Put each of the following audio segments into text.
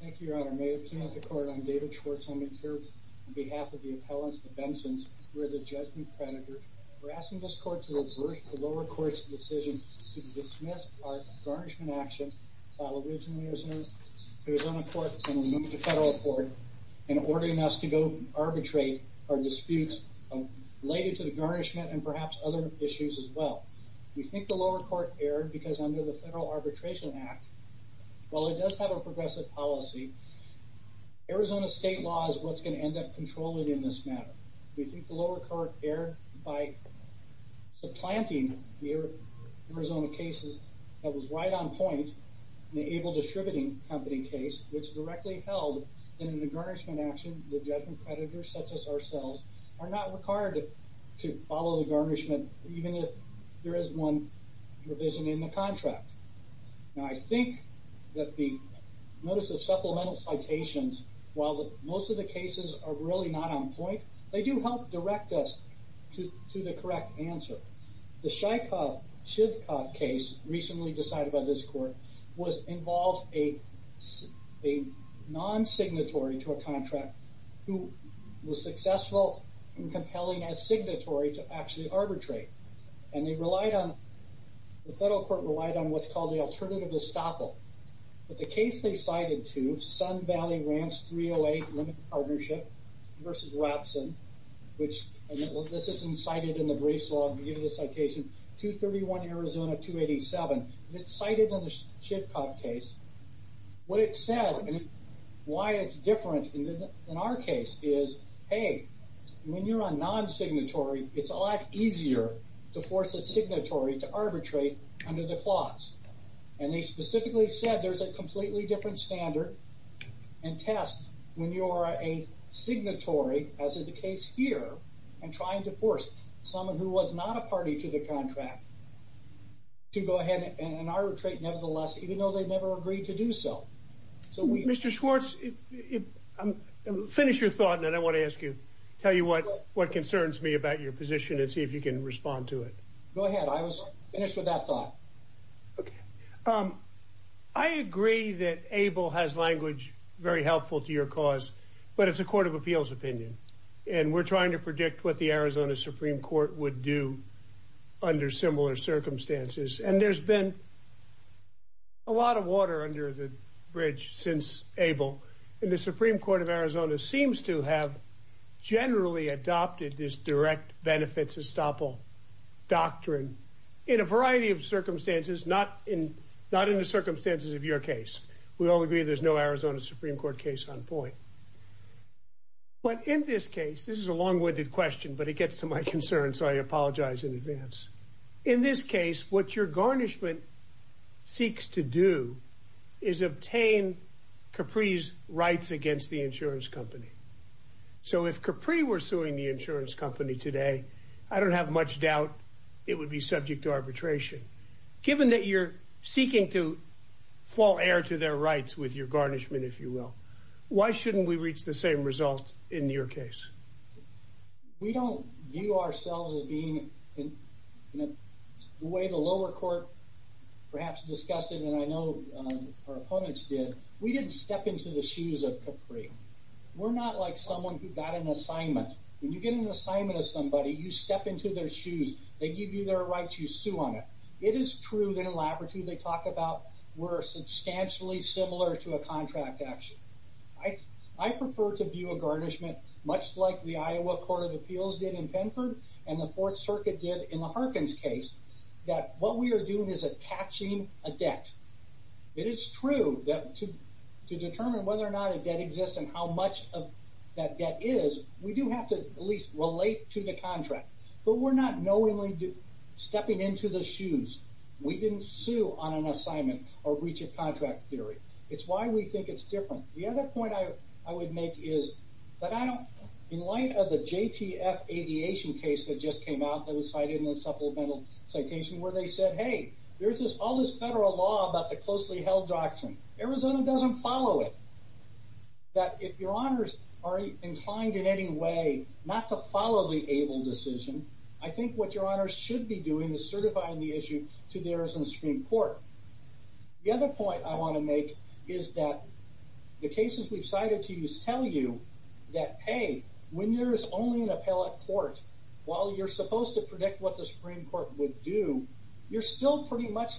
Thank you, Your Honor. May it please the Court, I'm David Schwartz. I'm in court on behalf of the appellants, the Bensons. We're the Judgment Predators. We're asking this Court to reverse the lower court's decision to dismiss our garnishment action while originally it was on a court and we moved to federal court and ordering us to go arbitrate our disputes related to the garnishment and perhaps other issues as well. We think the lower court erred because under the Federal Arbitration Act, while it does have a progressive policy, Arizona state law is what's going to end up controlling in this matter. We think the lower court erred by supplanting the Arizona case that was right on point, the Able Distributing Company case, which directly held that in a garnishment action the Judgment Predators, such as ourselves, are not required to follow the garnishment even if there is one provision in the contract. Now I think that the notice of supplemental citations, while most of the cases are really not on point, they do help direct us to the correct answer. The Shivkoff case recently decided by this court involved a non-signatory to a contract who was successful in compelling a signatory to actually arbitrate. The federal court relied on what's called the alternative estoppel. But the case they cited to, Sun Valley Ranch 308 Limited Partnership v. Wapson, which this isn't cited in the briefs, I'll give you the citation, 231 Arizona 287, it's cited in the Shivkoff case, what it said and why it's different in our case is, hey, when you're on non-signatory, it's a lot easier to force a signatory to arbitrate under the clause. And they specifically said there's a completely different standard and test when you're a signatory, as is the case here, and trying to force someone who was not a party to the contract to go ahead and arbitrate nevertheless, even though they never agreed to do so. Mr. Schwartz, finish your thought and then I want to ask you, tell you what concerns me about your position and see if you can respond to it. Go ahead. I was finished with that thought. I agree that Abel has language very helpful to your cause, but it's a court of appeals opinion. And we're trying to predict what the Arizona Supreme Court would do under similar circumstances. And there's been a lot of water under the bridge since Abel in the Supreme Court of Arizona seems to have generally adopted this direct benefits estoppel doctrine in a variety of circumstances, not in not in the circumstances of your case. We all agree there's no Arizona Supreme Court case on point. But in this case, this is a long winded question, but it gets to my concern. So I apologize in advance. In this case, what your garnishment seeks to do is obtain Capri's rights against the insurance company. So if Capri were suing the insurance company today, I don't have much doubt it would be subject to arbitration, given that you're seeking to fall heir to their rights with your garnishment, if you will. Why shouldn't we reach the same result in your case? We don't view ourselves as being in the way the lower court perhaps discussed it, and I know our opponents did. We didn't step into the shoes of Capri. We're not like someone who got an assignment. When you get an assignment of somebody, you step into their shoes. They give you their rights. You sue on it. It is true that in laboratory they talk about we're substantially similar to a contract action. I prefer to view a garnishment much like the Iowa Court of Appeals did in Penford and the Fourth Circuit did in the Harkins case, that what we are doing is attaching a debt. It is true that to determine whether or not a debt exists and how much of that debt is, we do have to at least relate to the contract. But we're not knowingly stepping into the shoes. We didn't sue on an assignment or reach a contract theory. It's why we think it's different. The other point I would make is that in light of the JTF aviation case that just came out that was cited in the supplemental citation where they said, hey, there's all this federal law about the closely held doctrine. Arizona doesn't follow it. That if your honors are inclined in any way not to follow the ABLE decision, I think what your honors should be doing is certifying the issue to the Arizona Supreme Court. The other point I want to make is that the cases we've cited to you tell you that, hey, when there's only an appellate court, while you're supposed to predict what the Supreme Court would do, you're still pretty much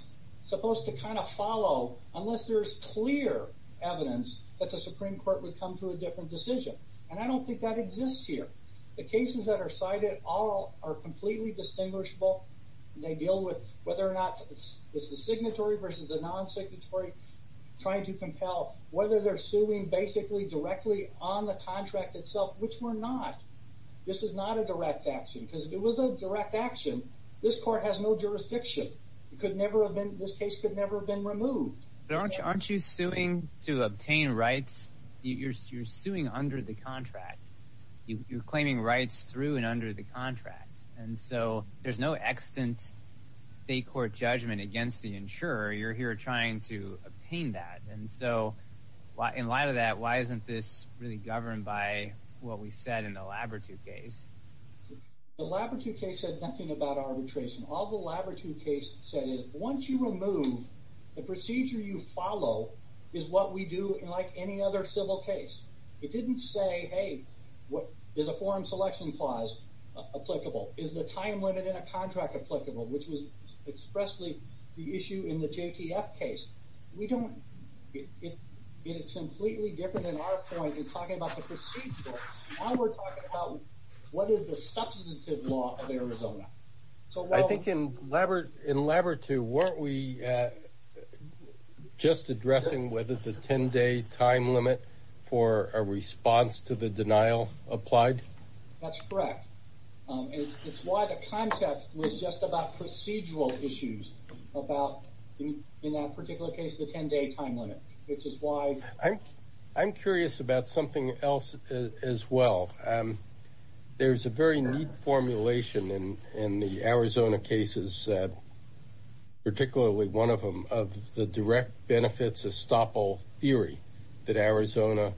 supposed to kind of follow unless there's clear evidence that the Supreme Court would come to a different decision. And I don't think that exists here. The cases that are cited all are completely distinguishable. They deal with whether or not it's the signatory versus the non-signatory, trying to compel whether they're suing basically directly on the contract itself, which we're not. This is not a direct action. Because if it was a direct action, this court has no jurisdiction. It could never have been, this case could never have been removed. Aren't you suing to obtain rights? You're suing under the contract. You're claiming rights through and under the contract. And so there's no extant state court judgment against the insurer. You're here trying to obtain that. And so in light of that, why isn't this really governed by what we said in the Labrature case? The Labrature case said nothing about arbitration. All the Labrature case said is once you remove, the procedure you follow is what we do like any other civil case. It didn't say, hey, is a form selection clause applicable? Is the time limit in a contract applicable? Which was expressly the issue in the JTF case. We don't, it's completely different than our point in talking about the procedure. Now we're talking about what is the substantive law of Arizona. I think in Labrature, weren't we just addressing whether the 10-day time limit for a response to the denial applied? That's correct. It's why the context was just about procedural issues about, in that particular case, the 10-day time limit, which is why. I'm curious about something else as well. There's a very neat formulation in the Arizona cases, particularly one of them, of the direct benefits of stop all theory that Arizona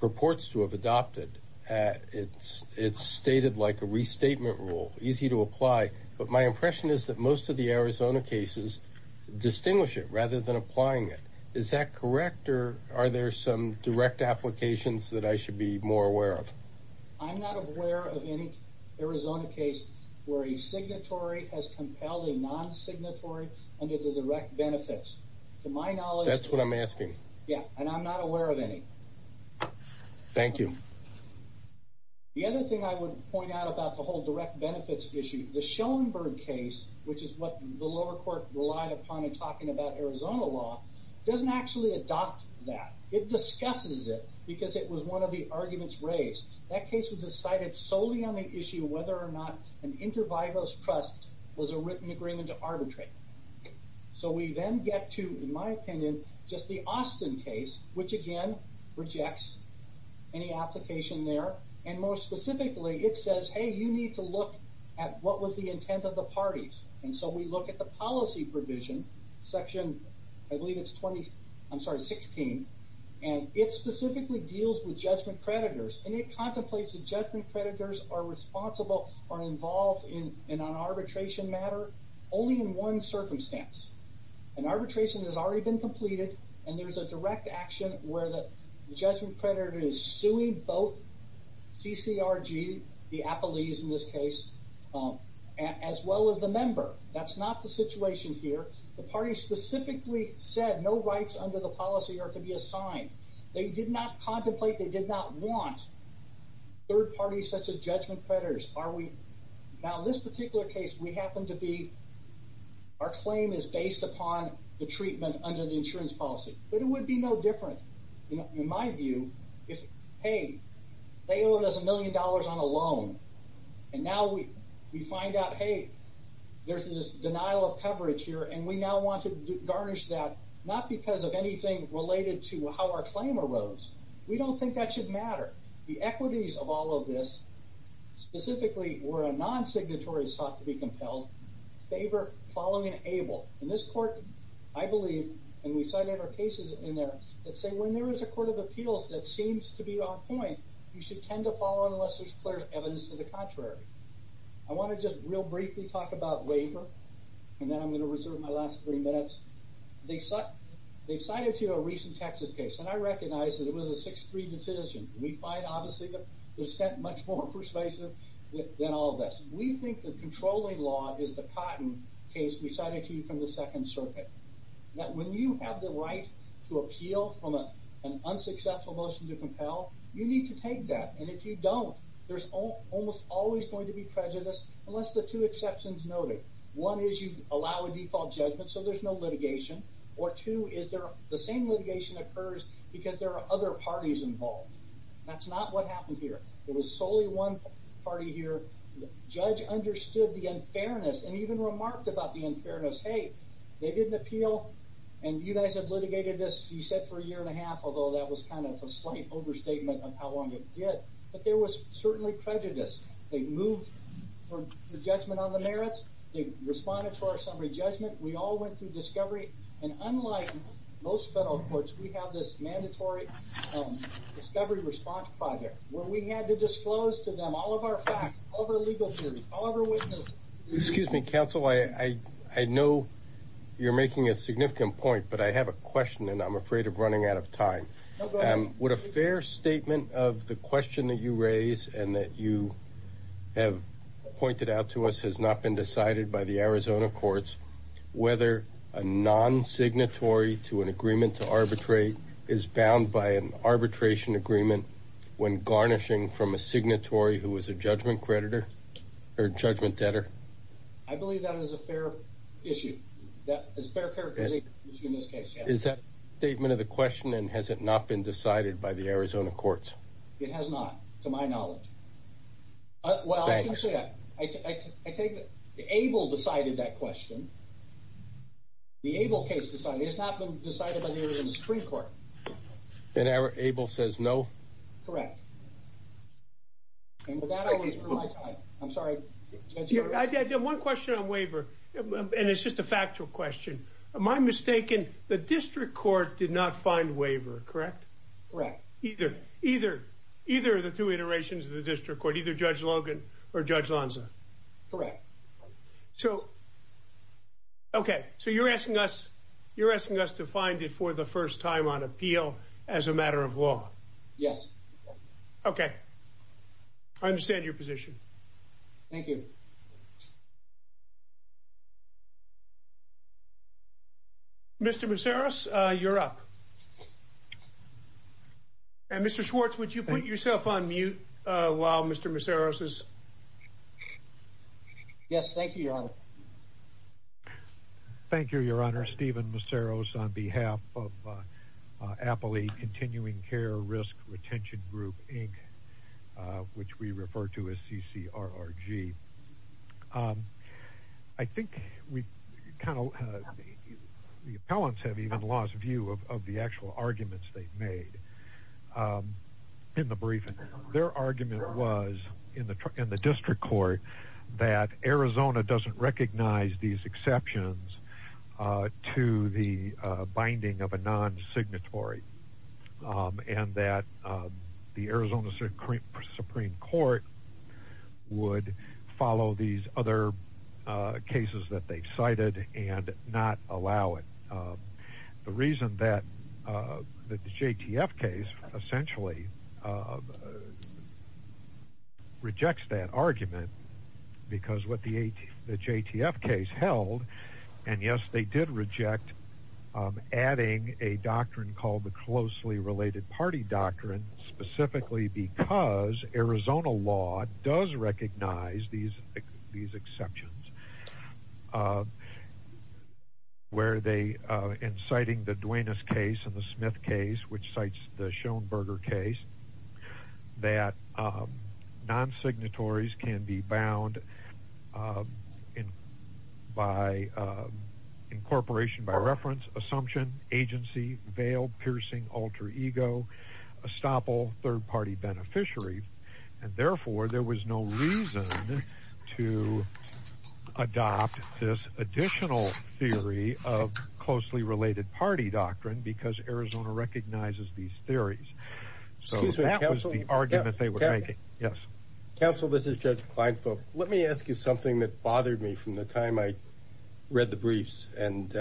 purports to have adopted. It's stated like a restatement rule, easy to apply. But my impression is that most of the Arizona cases distinguish it rather than applying it. Is that correct, or are there some direct applications that I should be more aware of? I'm not aware of any Arizona case where a signatory has compelled a non-signatory under the direct benefits. To my knowledge— That's what I'm asking. Yeah, and I'm not aware of any. Thank you. The other thing I would point out about the whole direct benefits issue, the Schoenberg case, which is what the lower court relied upon in talking about Arizona law, doesn't actually adopt that. It discusses it because it was one of the arguments raised. That case was decided solely on the issue of whether or not an inter vivos trust was a written agreement to arbitrate. So we then get to, in my opinion, just the Austin case, which again rejects any application there. And more specifically, it says, hey, you need to look at what was the intent of the parties. And so we look at the policy provision, section—I believe it's 20—I'm sorry, 16. And it specifically deals with judgment creditors. And it contemplates that judgment creditors are responsible or involved in an arbitration matter only in one circumstance. An arbitration has already been completed, and there's a direct action where the judgment creditor is suing both CCRG, the appellees in this case, as well as the member. That's not the situation here. The party specifically said no rights under the policy are to be assigned. They did not contemplate, they did not want third parties such as judgment creditors. Now, in this particular case, we happen to be—our claim is based upon the treatment under the insurance policy. But it would be no different, in my view, if, hey, they owe us a million dollars on a loan. And now we find out, hey, there's this denial of coverage here, and we now want to garnish that, not because of anything related to how our claim arose. We don't think that should matter. The equities of all of this, specifically where a non-signatory is thought to be compelled, favor following an able. In this court, I believe, and we cite other cases in there that say when there is a court of appeals that seems to be on point, you should tend to follow unless there's clear evidence to the contrary. I want to just real briefly talk about waiver, and then I'm going to reserve my last three minutes. They cited to you a recent Texas case, and I recognize that it was a 6-3 decision. We find, obviously, that it was sent much more persuasive than all of this. We think the controlling law is the cotton case we cited to you from the Second Circuit, that when you have the right to appeal from an unsuccessful motion to compel, you need to take that. And if you don't, there's almost always going to be prejudice, unless the two exceptions noted. One is you allow a default judgment, so there's no litigation. Or two is the same litigation occurs because there are other parties involved. That's not what happened here. There was solely one party here. The judge understood the unfairness and even remarked about the unfairness. Hey, they did an appeal, and you guys have litigated this, he said, for a year and a half, although that was kind of a slight overstatement of how long it did. But there was certainly prejudice. They moved the judgment on the merits. They responded to our summary judgment. We all went through discovery. And unlike most federal courts, we have this mandatory discovery response project where we had to disclose to them all of our facts, all of our legal theories, all of our witnesses. Excuse me, counsel. I know you're making a significant point, but I have a question, and I'm afraid of running out of time. Would a fair statement of the question that you raise and that you have pointed out to us has not been decided by the Arizona courts whether a non-signatory to an agreement to arbitrate is bound by an arbitration agreement when garnishing from a signatory who is a judgment creditor or judgment debtor? I believe that is a fair issue. That is a fair characterization in this case, yes. Is that a statement of the question, and has it not been decided by the Arizona courts? It has not, to my knowledge. Well, I can say that. I think that Abel decided that question. The Abel case has not been decided by the Arizona Supreme Court. And Abel says no? Correct. And with that, I'll wait for my time. I'm sorry. I have one question on waiver, and it's just a factual question. Am I mistaken? The district court did not find waiver, correct? Correct. Either of the two iterations of the district court, either Judge Logan or Judge Lonza? Correct. So, okay. So you're asking us to find it for the first time on appeal as a matter of law? Yes. Okay. I understand your position. Thank you. Mr. Maceros, you're up. And, Mr. Schwartz, would you put yourself on mute while Mr. Maceros is? Yes, thank you, Your Honor. Thank you, Your Honor. Steven Maceros on behalf of Appley Continuing Care Risk Retention Group, Inc., which we refer to as CCRRG. I think the appellants have even lost view of the actual arguments they've made in the briefing. Their argument was in the district court that Arizona doesn't recognize these exceptions to the binding of a non-signatory and that the Arizona Supreme Court would follow these other cases that they've cited and not allow it. The reason that the JTF case essentially rejects that argument because what the JTF case held, and, yes, they did reject adding a doctrine called the closely related party doctrine, specifically because Arizona law does recognize these exceptions, where they, in citing the Duenas case and the Smith case, which cites the Schoenberger case, that non-signatories can be bound by incorporation by reference, assumption, agency, veil, piercing, alter ego, estoppel, third party beneficiary. And, therefore, there was no reason to adopt this additional theory of closely related party doctrine because Arizona recognizes these theories. So that was the argument they were making. Counsel, this is Judge Kleinfeld. Let me ask you something that bothered me from the time I read the briefs. And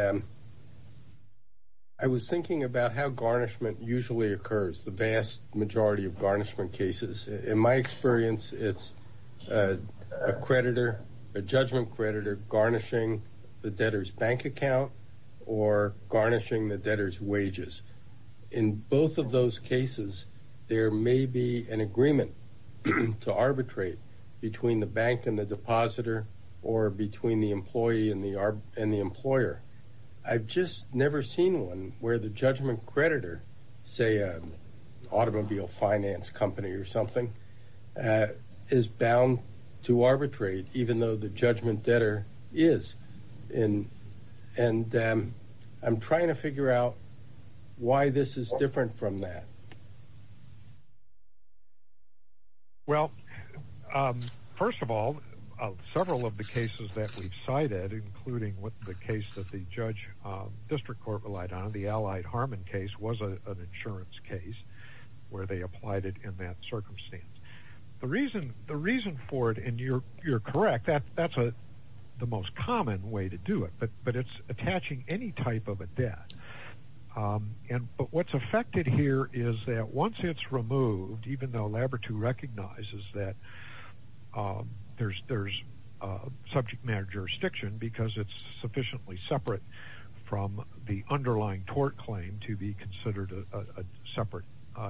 I was thinking about how garnishment usually occurs, the vast majority of garnishment cases. In my experience, it's a creditor, a judgment creditor, garnishing the debtor's bank account or garnishing the debtor's wages. In both of those cases, there may be an agreement to arbitrate between the bank and the depositor or between the employee and the employer. I've just never seen one where the judgment creditor, say an automobile finance company or something, is bound to arbitrate, even though the judgment debtor is. And I'm trying to figure out why this is different from that. Well, first of all, several of the cases that we've cited, including the case that the judge district court relied on, the Allied Harmon case, was an insurance case where they applied it in that circumstance. The reason for it, and you're correct, that's the most common way to do it. But it's attaching any type of a debt. But what's affected here is that once it's removed, even though Labrador recognizes that there's subject matter jurisdiction because it's sufficiently separate from the underlying tort claim to be considered a separate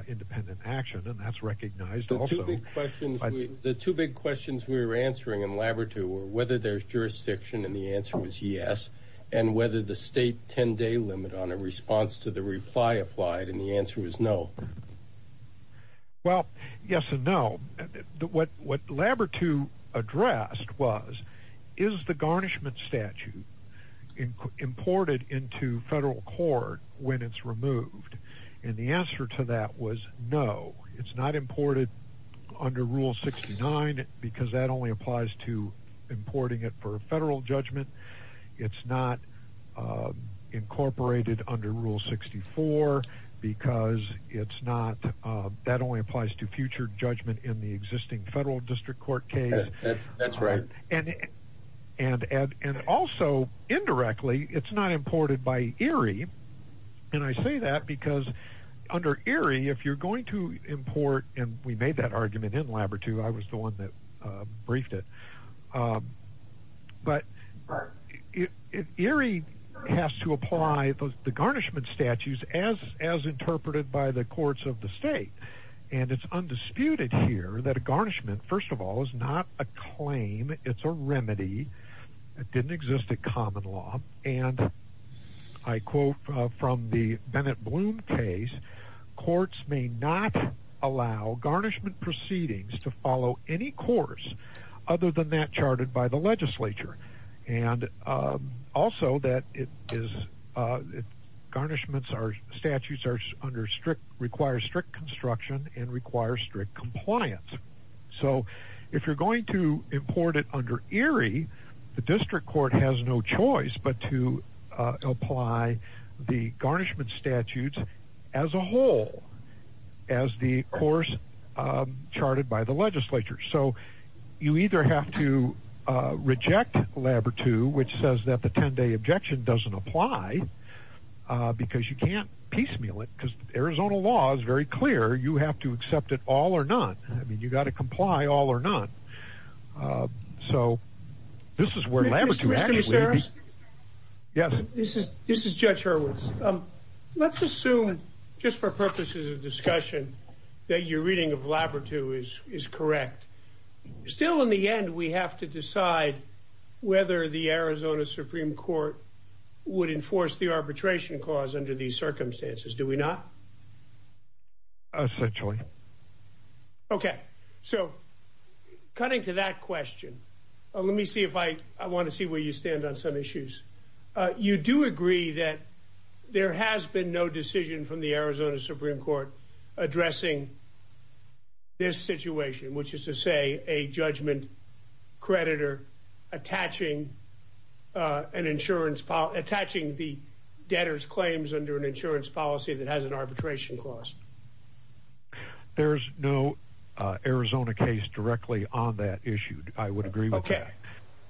independent action. And that's recognized also. The two big questions we were answering in Labrador were whether there's jurisdiction. And the answer was yes. And whether the state 10-day limit on a response to the reply applied. And the answer was no. Well, yes and no. What Labrador addressed was, is the garnishment statute imported into federal court when it's removed? And the answer to that was no. It's not imported under Rule 69 because that only applies to importing it for a federal judgment. It's not incorporated under Rule 64 because it's not. That only applies to future judgment in the existing federal district court case. That's right. And also, indirectly, it's not imported by ERIE. And I say that because under ERIE, if you're going to import, and we made that argument in Labrador, too. I was the one that briefed it. But ERIE has to apply the garnishment statutes as interpreted by the courts of the state. And it's undisputed here that a garnishment, first of all, is not a claim. It's a remedy. It didn't exist in common law. And I quote from the Bennett-Bloom case, courts may not allow garnishment proceedings to follow any course other than that charted by the legislature. And also that it is, garnishments are, statutes are under strict, require strict construction and require strict compliance. So if you're going to import it under ERIE, the district court has no choice but to apply the garnishment statutes as a whole, as the course charted by the legislature. So you either have to reject Labrador 2, which says that the 10-day objection doesn't apply, because you can't piecemeal it. Because Arizona law is very clear. You have to accept it all or none. I mean, you've got to comply all or none. So this is where Labrador 2 actually... This is Judge Hurwitz. Let's assume, just for purposes of discussion, that your reading of Labrador 2 is correct. Still, in the end, we have to decide whether the Arizona Supreme Court would enforce the arbitration clause under these circumstances. Do we not? Essentially. Okay. So, cutting to that question, let me see if I... I want to see where you stand on some issues. You do agree that there has been no decision from the Arizona Supreme Court addressing this situation, which is to say a judgment creditor attaching the debtor's claims under an insurance policy that has an arbitration clause. There's no Arizona case directly on that issue. I would agree with that.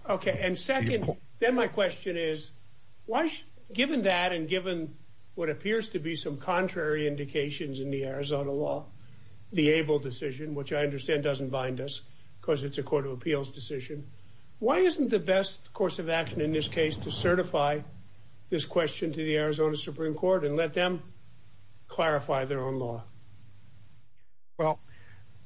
Okay. And second, then my question is, given that and given what appears to be some contrary indications in the Arizona law, the Abel decision, which I understand doesn't bind us because it's a court of appeals decision, why isn't the best course of action in this case to certify this question to the Arizona Supreme Court and let them clarify their own law? Well,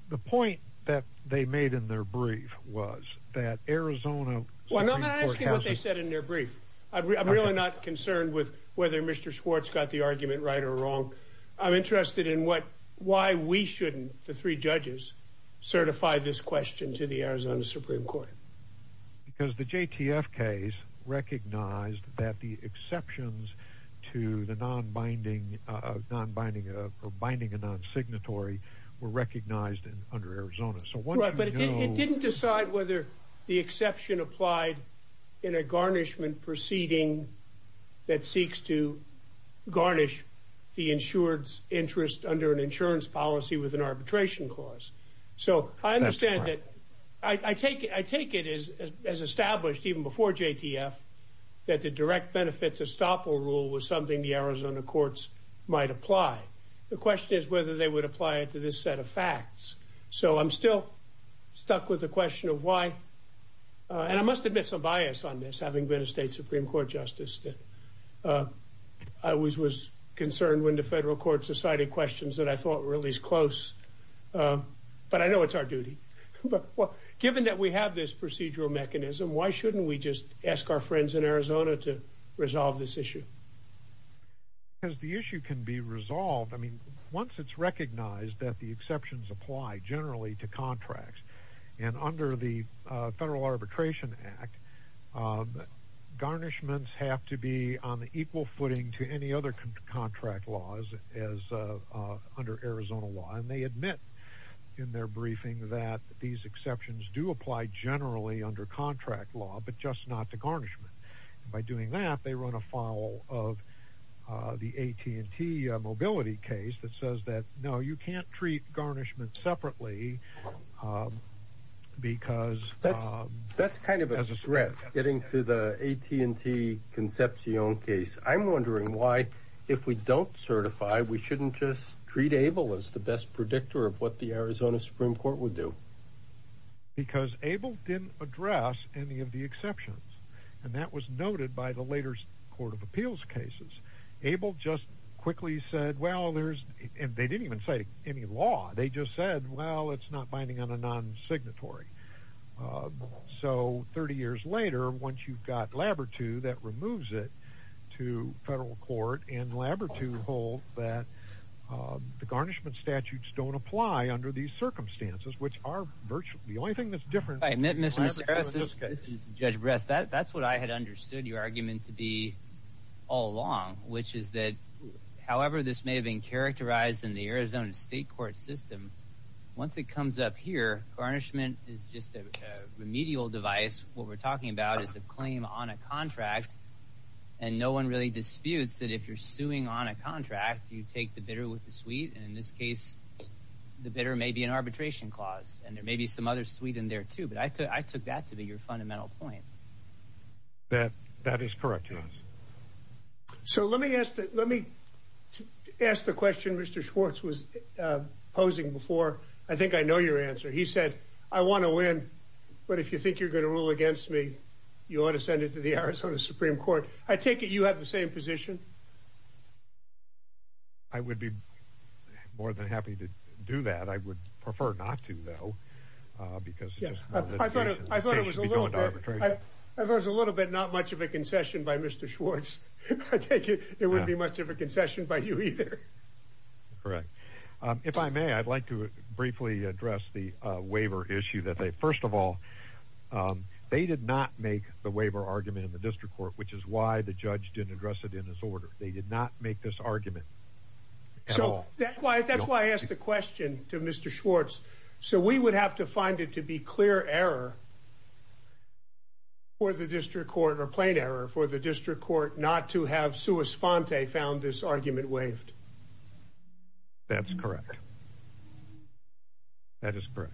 the point that they made in their brief was that Arizona... Well, I'm not asking what they said in their brief. I'm really not concerned with whether Mr. Schwartz got the argument right or wrong. I'm interested in why we shouldn't, the three judges, certify this question to the Arizona Supreme Court. Because the JTF case recognized that the exceptions to the non-binding or binding a non-signatory were recognized under Arizona. But it didn't decide whether the exception applied in a garnishment proceeding that seeks to garnish the insured's interest under an insurance policy with an arbitration clause. So I understand that. I take it as established even before JTF that the direct benefits estoppel rule was something the Arizona courts might apply. The question is whether they would apply it to this set of facts. So I'm still stuck with the question of why. And I must admit some bias on this, having been a state Supreme Court justice. I was concerned when the federal courts decided questions that I thought were at least close. But I know it's our duty. Given that we have this procedural mechanism, why shouldn't we just ask our friends in Arizona to resolve this issue? Because the issue can be resolved. I mean, once it's recognized that the exceptions apply generally to contracts. And under the Federal Arbitration Act, garnishments have to be on equal footing to any other contract laws as under Arizona law. And they admit in their briefing that these exceptions do apply generally under contract law, but just not to garnishment. By doing that, they run afoul of the AT&T mobility case that says that, no, you can't treat garnishment separately because. That's kind of a threat, getting to the AT&T Concepcion case. I'm wondering why, if we don't certify, we shouldn't just treat ABLE as the best predictor of what the Arizona Supreme Court would do. Because ABLE didn't address any of the exceptions. And that was noted by the later Court of Appeals cases. ABLE just quickly said, well, there's. And they didn't even say any law. They just said, well, it's not binding on a non-signatory. So 30 years later, once you've got Labortu, that removes it to federal court. And Labortu hold that the garnishment statutes don't apply under these circumstances, which are virtually the only thing that's different. I admit, Mr. Harris, this is Judge Breast. That's what I had understood your argument to be all along, which is that. However, this may have been characterized in the Arizona state court system. Once it comes up here, garnishment is just a remedial device. What we're talking about is a claim on a contract. And no one really disputes that if you're suing on a contract, you take the bidder with the suite. And in this case, the bidder may be an arbitration clause. And there may be some other suite in there, too. But I took that to be your fundamental point. That is correct. So let me ask that. Let me ask the question. Mr. Schwartz was posing before. I think I know your answer. He said, I want to win. But if you think you're going to rule against me, you ought to send it to the Arizona Supreme Court. I take it you have the same position. I would be more than happy to do that. I would prefer not to, though, because I thought I thought it was a little bit. Not much of a concession by Mr. Schwartz. It would be much of a concession by you either. Correct. If I may, I'd like to briefly address the waiver issue. First of all, they did not make the waiver argument in the district court, which is why the judge didn't address it in his order. They did not make this argument. So that's why I asked the question to Mr. Schwartz. So we would have to find it to be clear error. Or the district court or plain error for the district court not to have Sue Esponte found this argument waived. That's correct. That is correct.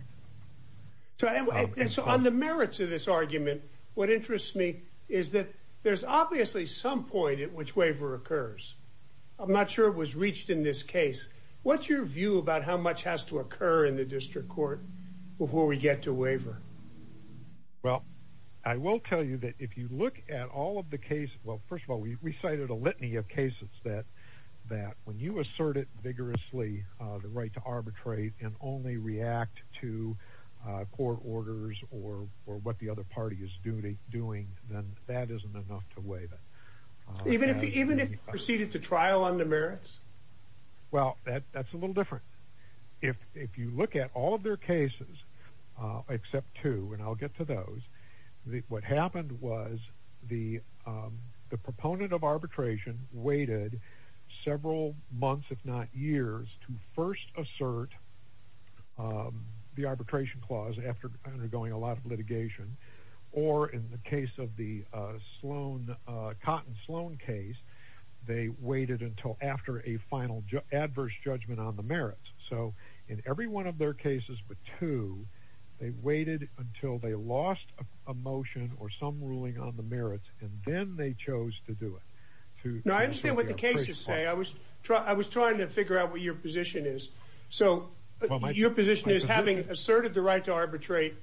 So on the merits of this argument, what interests me is that there's obviously some point at which waiver occurs. I'm not sure it was reached in this case. What's your view about how much has to occur in the district court before we get to waiver? Well, I will tell you that if you look at all of the case. Well, first of all, we cited a litany of cases that that when you assert it vigorously, the right to arbitrate and only react to court orders or or what the other party is doing, then that isn't enough to waive it. Even if even if proceeded to trial on the merits. Well, that's a little different. If if you look at all of their cases, except two, and I'll get to those, what happened was the the proponent of arbitration waited several months, if not years, to first assert the arbitration clause after undergoing a lot of litigation. Or in the case of the Sloan Cotton Sloan case, they waited until after a final adverse judgment on the merits. So in every one of their cases, but two, they waited until they lost a motion or some ruling on the merits, and then they chose to do it. I understand what the cases say. I was I was trying to figure out what your position is. So your position is having asserted the right to arbitrate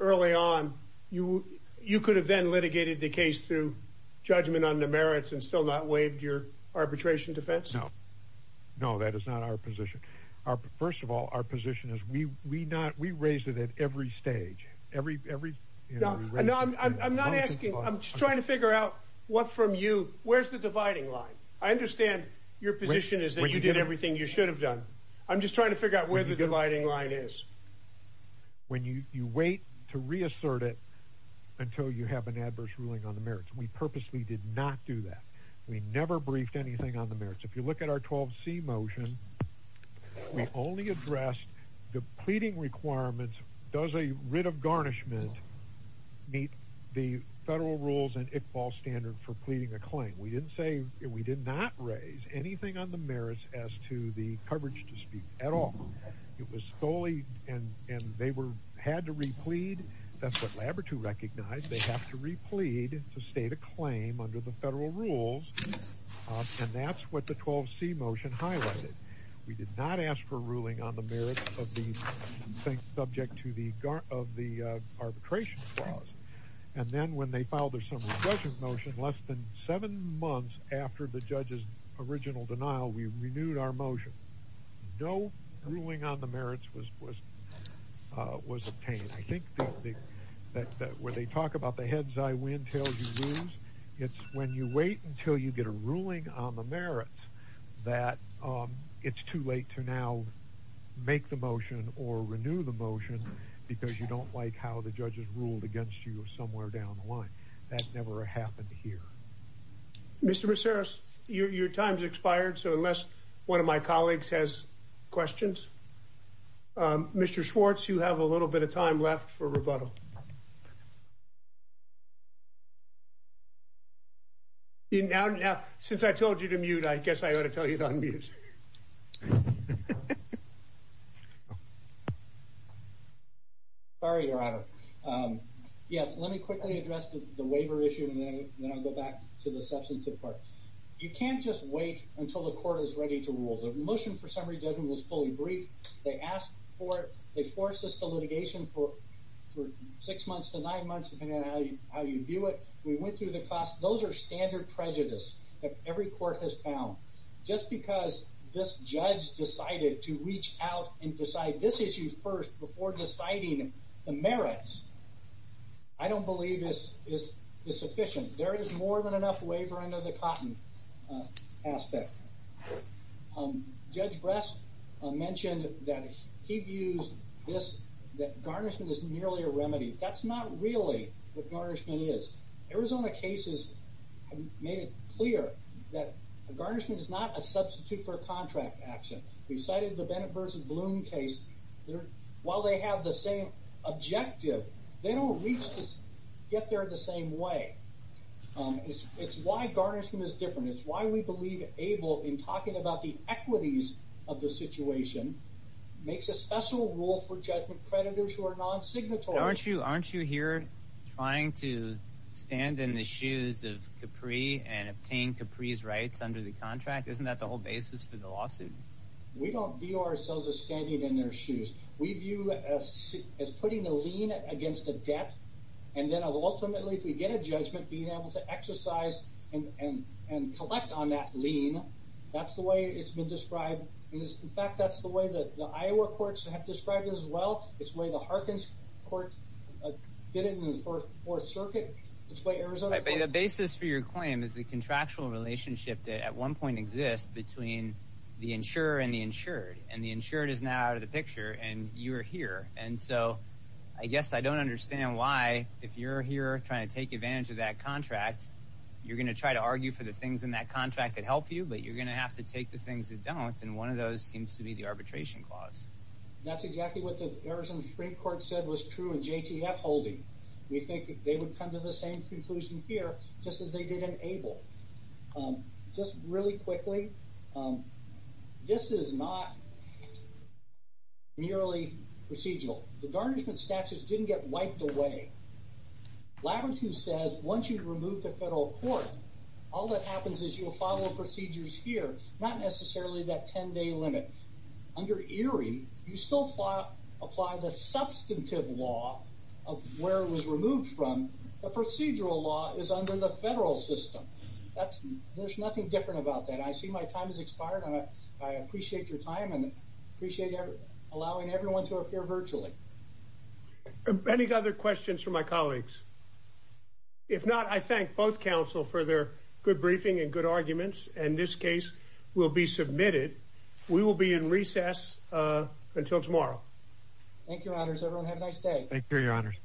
early on. You you could have then litigated the case through judgment on the merits and still not waived your arbitration defense. No, no, that is not our position. Our first of all, our position is we we not we raise it at every stage, every every. No, no, I'm not asking. I'm just trying to figure out what from you. Where's the dividing line? I understand your position is that you did everything you should have done. I'm just trying to figure out where the dividing line is. When you wait to reassert it until you have an adverse ruling on the merits, we purposely did not do that. We never briefed anything on the merits. If you look at our 12C motion, we only addressed the pleading requirements. Does a writ of garnishment meet the federal rules and Iqbal standard for pleading a claim? We didn't say we did not raise anything on the merits as to the coverage to speak at all. It was solely and and they were had to replete. That's what Labrador to recognize. They have to replete to state a claim under the federal rules. And that's what the 12C motion highlighted. We did not ask for ruling on the merits of the subject to the of the arbitration clause. And then when they filed a motion less than seven months after the judge's original denial, we renewed our motion. No ruling on the merits was was was obtained. I think that where they talk about the heads, I win, tails, you lose. It's when you wait until you get a ruling on the merits that it's too late to now make the motion or renew the motion because you don't like how the judges ruled against you somewhere down the line. That's never happened here. Mr. Macias, your time's expired. So unless one of my colleagues has questions. Mr. Schwartz, you have a little bit of time left for rebuttal. Now, since I told you to mute, I guess I ought to tell you that. Sorry, your honor. Yeah, let me quickly address the waiver issue and then I'll go back to the substantive part. You can't just wait until the court is ready to rule. The motion for summary judgment was fully briefed. They asked for it. They forced us to litigation for six months to nine months, depending on how you view it. We went through the cost. Those are standard prejudice that every court has found. Just because this judge decided to reach out and decide this issue first before deciding the merits, I don't believe is sufficient. There is more than enough waiver under the cotton aspect. Judge Brest mentioned that he views this, that garnishment is merely a remedy. That's not really what garnishment is. Arizona cases have made it clear that a garnishment is not a substitute for a contract action. We cited the Bennett v. Bloom case. While they have the same objective, they don't get there the same way. It's why garnishment is different. It's why we believe ABLE, in talking about the equities of the situation, makes a special rule for judgment creditors who are non-signatory. Aren't you here trying to stand in the shoes of Capri and obtain Capri's rights under the contract? Isn't that the whole basis for the lawsuit? We don't view ourselves as standing in their shoes. We view it as putting a lien against a debt. Ultimately, if we get a judgment, being able to exercise and collect on that lien, that's the way it's been described. In fact, that's the way the Iowa courts have described it as well. It's the way the Harkins court did it in the Fourth Circuit. The basis for your claim is the contractual relationship that at one point exists between the insurer and the insured. And the insured is now out of the picture, and you are here. And so I guess I don't understand why, if you're here trying to take advantage of that contract, you're going to try to argue for the things in that contract that help you, but you're going to have to take the things that don't. And one of those seems to be the arbitration clause. That's exactly what the Arizon Supreme Court said was true in JTF holding. We think they would come to the same conclusion here just as they did in ABLE. Just really quickly, this is not merely procedural. The garnishment statute didn't get wiped away. Labrador says once you've removed the federal court, all that happens is you'll follow the procedures here, not necessarily that 10-day limit. Under ERIE, you still apply the substantive law of where it was removed from. The procedural law is under the federal system. There's nothing different about that. I see my time has expired. I appreciate your time and appreciate allowing everyone to appear virtually. Any other questions for my colleagues? If not, I thank both counsel for their good briefing and good arguments, and this case will be submitted. We will be in recess until tomorrow. Thank you, Your Honors. Everyone have a nice day. Thank you, Your Honors.